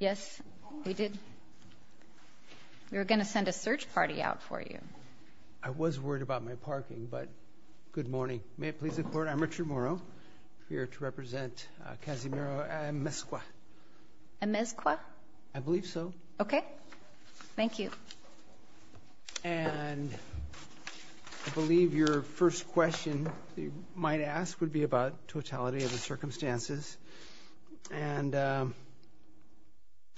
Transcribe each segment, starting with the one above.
Yes, we did. We were going to send a search party out for you. I was worried about my parking, but good morning. May it please the court, I'm Richard Morrow, here to represent Casimiro Amezcua. Amezcua? I believe so. Okay, thank you. And I believe your first question you might ask would be about totality of the circumstances. And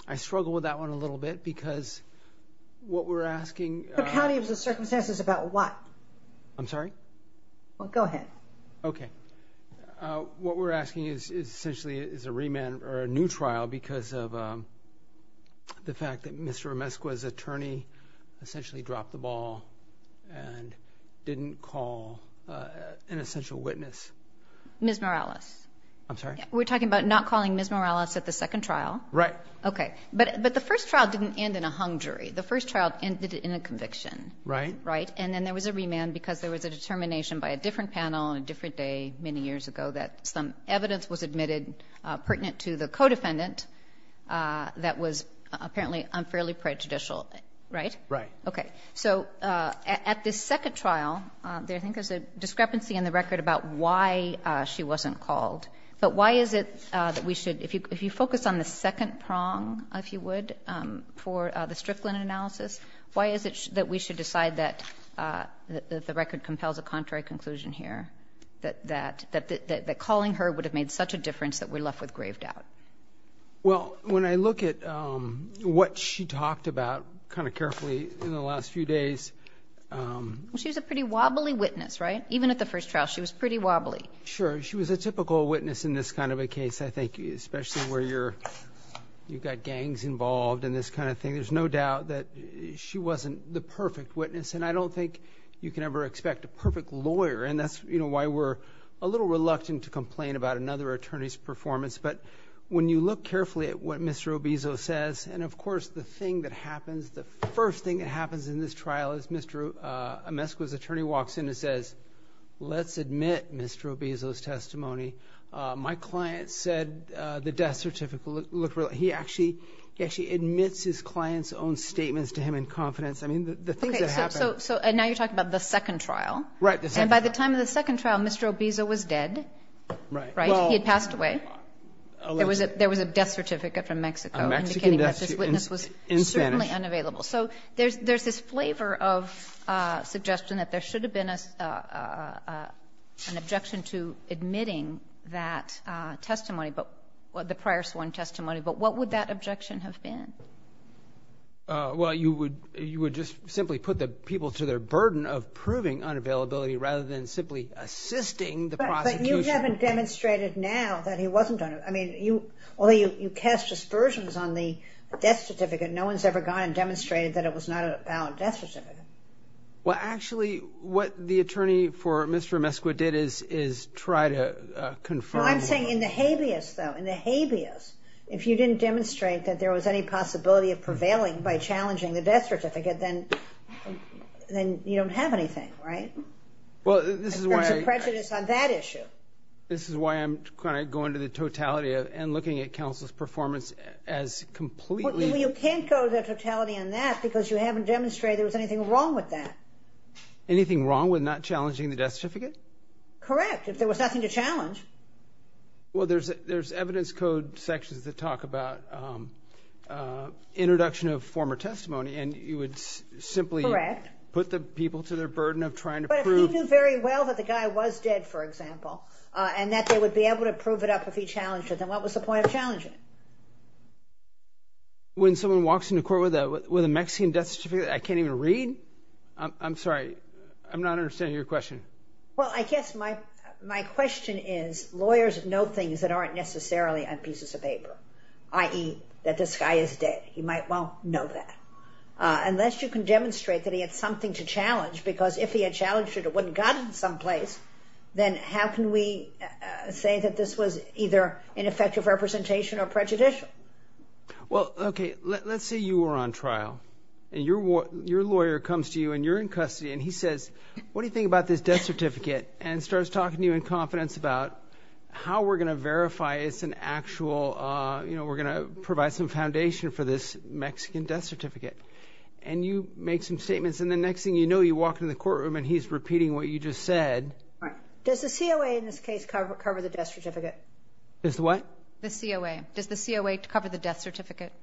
I struggle with that one a little bit because what we're asking... Totality of the circumstances about what? I'm sorry? Well, go ahead. Okay. What we're asking is essentially is a remand or a new trial because of the fact that Mr. Amezcua's attorney essentially dropped the ball and didn't call an essential witness. Ms. Morales. I'm sorry? We're talking about not calling Ms. Morales at the second trial. Right. Okay. But the first trial didn't end in a hung jury. The first trial ended in a conviction. Right. Right. And then there was a remand because there was a determination by a different panel on a different day many years ago that some evidence was admitted pertinent to the co-defendant that was apparently unfairly prejudicial. Right? Right. Okay. So at the second trial, there I think is a discrepancy in the record about why she wasn't called. But why is it that we should, if you focus on the second prong, if you would, for the Strickland analysis, why is it that we should decide that the record compels a contrary conclusion here, that calling her would have made such a difference that we're left with grave doubt? Well, when I look at what she talked about kind of carefully in the last few days. She was a pretty wobbly witness, right? Even at the first trial, she was pretty wobbly. Sure. She was a typical witness in this kind of a case, I think, especially where you've got gangs involved and this kind of thing. There's no doubt that she wasn't the perfect witness, and I don't think you can ever expect a perfect lawyer. And that's why we're a little reluctant to complain about another attorney's performance. But when you look carefully at what Mr. Obizo says, and, of course, the thing that happens, the first thing that happens in this trial is Mr. Amescuo's attorney walks in and says, let's admit Mr. Obizo's testimony. My client said the death certificate looked real. He actually admits his client's own statements to him in confidence. I mean, the things that happened. So now you're talking about the second trial. Right. And by the time of the second trial, Mr. Obizo was dead. Right. He had passed away. There was a death certificate from Mexico indicating that this witness was certainly unavailable. So there's this flavor of suggestion that there should have been an objection to admitting that testimony, the prior sworn testimony, but what would that objection have been? Well, you would just simply put the people to their burden of proving unavailability rather than simply assisting the prosecution. But you haven't demonstrated now that he wasn't unavailable. I mean, although you cast aspersions on the death certificate, no one's ever gone and demonstrated that it was not a valid death certificate. Well, actually, what the attorney for Mr. Amescuo did is try to confirm. No, I'm saying in the habeas, though, in the habeas, if you didn't demonstrate that there was any possibility of prevailing by challenging the death certificate, then you don't have anything, right? Well, this is why I'm going to go into the totality and looking at counsel's performance as completely. You can't go to the totality on that because you haven't demonstrated there was anything wrong with that. Anything wrong with not challenging the death certificate? Correct, if there was nothing to challenge. Well, there's evidence code sections that talk about introduction of former testimony, and you would simply put the people to their burden of trying to prove. But if he knew very well that the guy was dead, for example, and that they would be able to prove it up if he challenged it, then what was the point of challenging it? When someone walks into court with a Mexican death certificate that I can't even read? I'm sorry, I'm not understanding your question. Well, I guess my question is lawyers know things that aren't necessarily on pieces of paper, i.e., that this guy is dead. He might well know that. Unless you can demonstrate that he had something to challenge, because if he had challenged it, it wouldn't have gotten someplace, then how can we say that this was either ineffective representation or prejudicial? Well, okay, let's say you were on trial, and your lawyer comes to you, and you're in custody, and he says, what do you think about this death certificate? And starts talking to you in confidence about how we're going to verify it's an actual, you know, we're going to provide some foundation for this Mexican death certificate. And you make some statements, and the next thing you know, you walk into the courtroom, and he's repeating what you just said. Does the COA in this case cover the death certificate? The what? The COA. Does the COA cover the death certificate?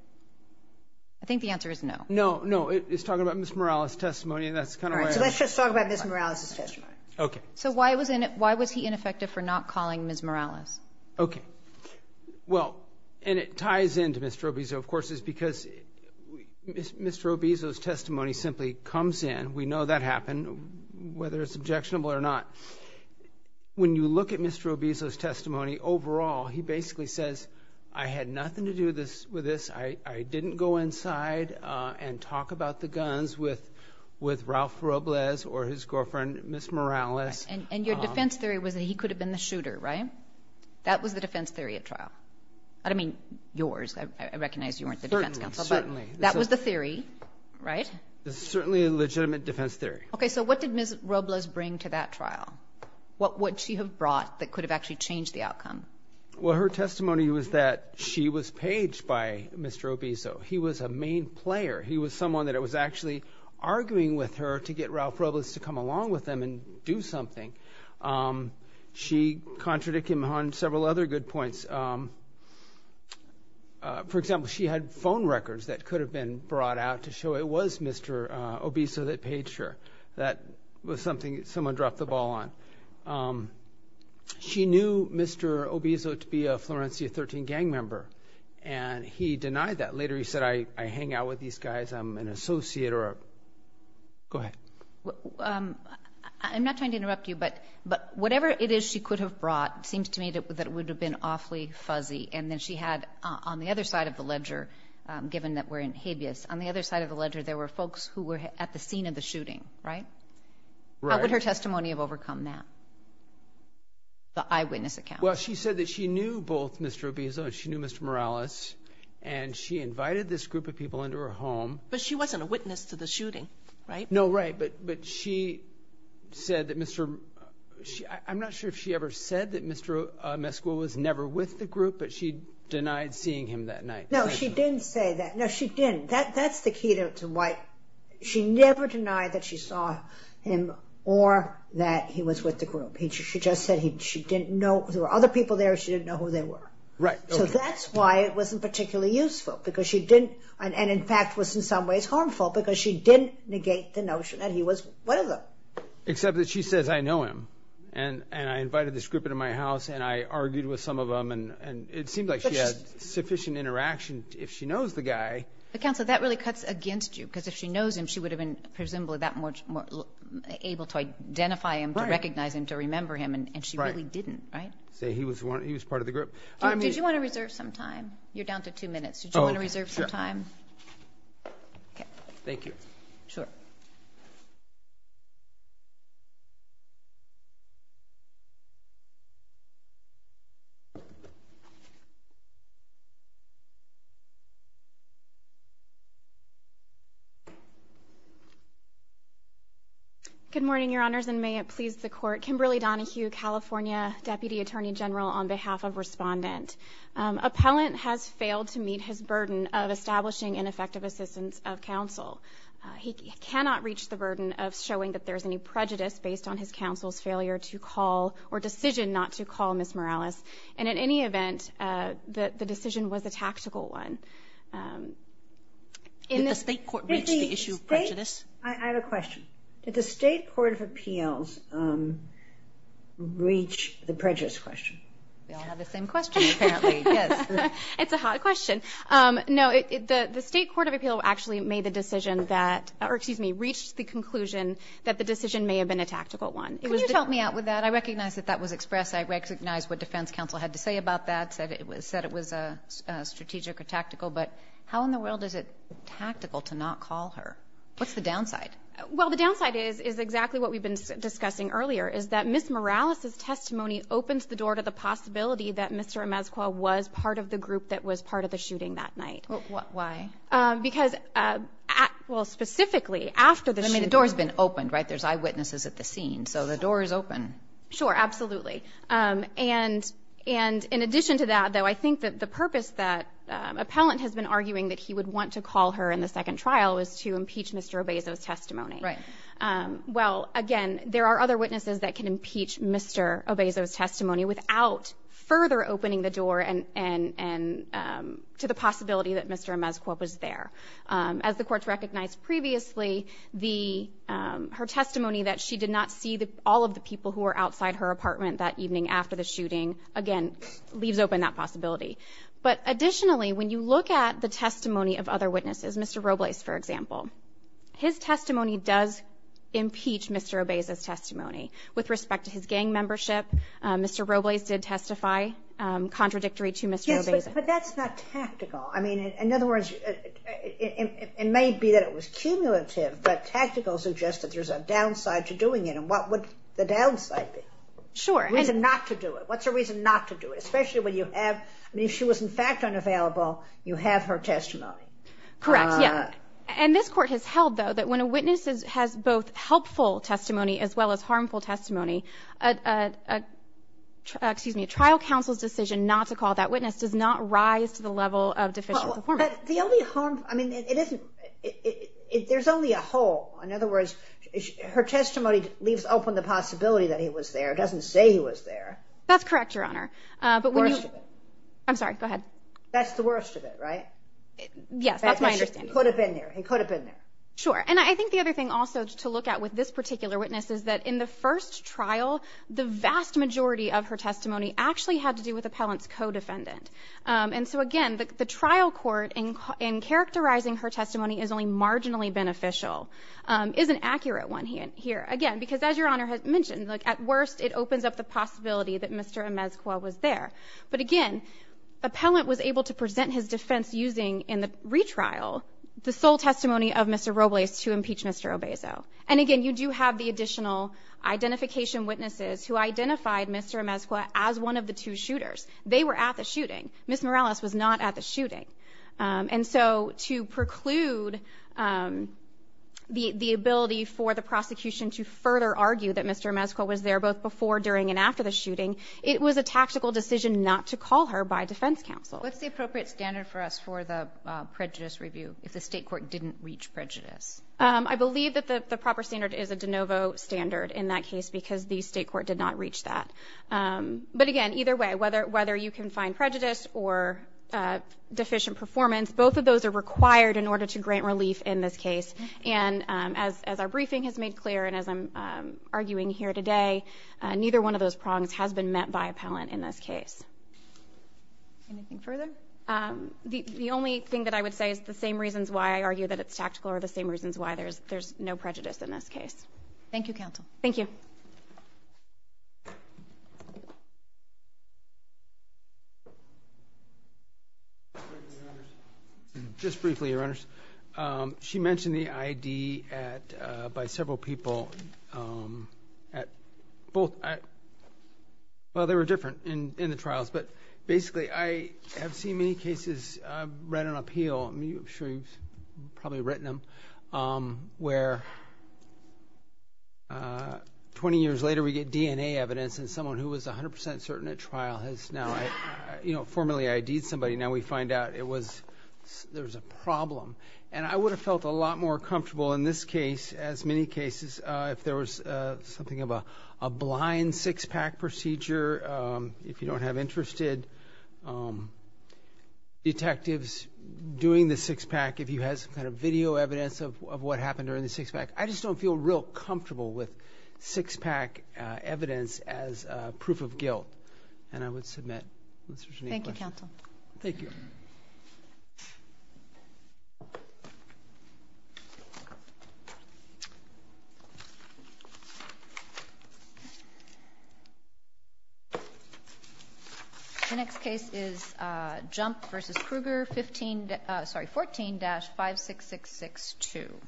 I think the answer is no. No, no. He's talking about Ms. Morales' testimony, and that's kind of where I am. All right, so let's just talk about Ms. Morales' testimony. Okay. So why was he ineffective for not calling Ms. Morales? Okay. Well, and it ties into Mr. Obisio, of course, because Mr. Obisio's testimony simply comes in, we know that happened, whether it's objectionable or not. When you look at Mr. Obisio's testimony overall, he basically says, I had nothing to do with this. I didn't go inside and talk about the guns with Ralph Robles or his girlfriend, Ms. Morales. And your defense theory was that he could have been the shooter, right? That was the defense theory at trial. I don't mean yours. I recognize you weren't the defense counsel. Certainly. That was the theory, right? It's certainly a legitimate defense theory. Okay. So what did Ms. Robles bring to that trial? What would she have brought that could have actually changed the outcome? Well, her testimony was that she was paged by Mr. Obisio. He was a main player. He was someone that was actually arguing with her to get Ralph Robles to come along with them and do something. She contradicted him on several other good points. For example, she had phone records that could have been brought out to show it was Mr. Obisio that paged her. That was something someone dropped the ball on. She knew Mr. Obisio to be a Florencia 13 gang member, and he denied that. Later he said, I hang out with these guys. I'm an associate. Go ahead. I'm not trying to interrupt you, but whatever it is she could have brought seems to me that would have been awfully fuzzy. And then she had on the other side of the ledger, given that we're in habeas, on the other side of the ledger there were folks who were at the scene of the shooting, right? Right. What would her testimony have overcome that? The eyewitness account. Well, she said that she knew both Mr. Obisio and she knew Mr. Morales, and she invited this group of people into her home. But she wasn't a witness to the shooting, right? No, right. But she said that Mr. – I'm not sure if she ever said that Mr. Mescua was never with the group, but she denied seeing him that night. No, she didn't say that. No, she didn't. That's the key to why – She never denied that she saw him or that he was with the group. She just said she didn't know – there were other people there. She didn't know who they were. Right, okay. So that's why it wasn't particularly useful because she didn't – and in fact was in some ways harmful because she didn't negate the notion that he was one of them. Except that she says, I know him, and I invited this group into my house, and I argued with some of them, and it seemed like she had sufficient interaction. If she knows the guy – she would have been presumably that much more able to identify him, to recognize him, to remember him, and she really didn't, right? Say he was part of the group. Did you want to reserve some time? You're down to two minutes. Did you want to reserve some time? Oh, sure. Okay. Thank you. Sure. Good morning, Your Honors, and may it please the Court. Kimberly Donohue, California, Deputy Attorney General, on behalf of Respondent. Appellant has failed to meet his burden of establishing an effective assistance of counsel. He cannot reach the burden of showing that there is any prejudice based on his counsel's failure to call or decision not to call Ms. Morales, and in any event, the decision was a tactical one. Did the State Court reach the issue of prejudice? I have a question. Did the State Court of Appeals reach the prejudice question? We all have the same question, apparently, yes. It's a hot question. No, the State Court of Appeals actually made the decision that – or, excuse me, reached the conclusion that the decision may have been a tactical one. Can you help me out with that? I recognize that that was expressed. I recognize what defense counsel had to say about that, said it was strategic or tactical, but how in the world is it tactical to not call her? What's the downside? Well, the downside is exactly what we've been discussing earlier, is that Ms. Morales' testimony opens the door to the possibility that Mr. Imezcua was part of the group that was part of the shooting that night. Why? Because, well, specifically, after the shooting. I mean, the door's been opened, right? There's eyewitnesses at the scene, so the door is open. Sure, absolutely. And in addition to that, though, I think that the purpose that appellant has been arguing that he would want to call her in the second trial is to impeach Mr. Obezo's testimony. Right. Well, again, there are other witnesses that can impeach Mr. Obezo's testimony without further opening the door to the possibility that Mr. Imezcua was there. As the courts recognized previously, her testimony that she did not see all of the people who were outside her apartment that evening after the shooting, again, leaves open that possibility. But additionally, when you look at the testimony of other witnesses, Mr. Robles, for example, his testimony does impeach Mr. Obezo's testimony. With respect to his gang membership, Mr. Robles did testify contradictory to Mr. Obezo. Yes, but that's not tactical. I mean, in other words, it may be that it was cumulative, but tactical suggests that there's a downside to doing it, and what would the downside be? Sure. What's the reason not to do it? What's the reason not to do it, especially when you have – I mean, if she was, in fact, unavailable, you have her testimony. Correct, yes. And this Court has held, though, that when a witness has both helpful testimony as well as harmful testimony, a trial counsel's decision not to call that witness does not rise to the level of deficient performance. But the only harm – I mean, it isn't – there's only a hole. In other words, her testimony leaves open the possibility that he was there. It doesn't say he was there. That's correct, Your Honor. The worst of it. I'm sorry, go ahead. That's the worst of it, right? Yes, that's my understanding. He could have been there. He could have been there. Sure. And I think the other thing also to look at with this particular witness is that in the first trial, the vast majority of her testimony actually had to do with appellant's co-defendant. And so, again, the trial court, in characterizing her testimony as only marginally beneficial, is an accurate one here. Again, because as Your Honor has mentioned, at worst it opens up the possibility that Mr. Amesqua was there. But, again, appellant was able to present his defense using in the retrial the sole testimony of Mr. Robles to impeach Mr. Obezo. And, again, you do have the additional identification witnesses who identified Mr. Amesqua as one of the two shooters. They were at the shooting. Ms. Morales was not at the shooting. And so to preclude the ability for the prosecution to further argue that Mr. Amesqua was there both before, during, and after the shooting, it was a tactical decision not to call her by defense counsel. What's the appropriate standard for us for the prejudice review if the state court didn't reach prejudice? I believe that the proper standard is a de novo standard in that case because the state court did not reach that. But, again, either way, whether you can find prejudice or deficient performance, both of those are required in order to grant relief in this case. And as our briefing has made clear and as I'm arguing here today, neither one of those prongs has been met by appellant in this case. Anything further? The only thing that I would say is the same reasons why I argue that it's tactical are the same reasons why there's no prejudice in this case. Thank you, counsel. Thank you. Just briefly, Your Honors. She mentioned the ID by several people. Well, they were different in the trials. But, basically, I have seen many cases. I've read an appeal. I'm sure you've probably written them, where 20 years later we get DNA evidence and someone who was 100% certain at trial has now formally ID'd somebody. Now we find out there was a problem. And I would have felt a lot more comfortable in this case, as many cases, if there was something of a blind six-pack procedure, if you don't have interested detectives doing the six-pack, if you had some kind of video evidence of what happened during the six-pack. I just don't feel real comfortable with six-pack evidence as proof of guilt. And I would submit. Thank you, counsel. Thank you. The next case is Jump v. Kruger, 14-56662.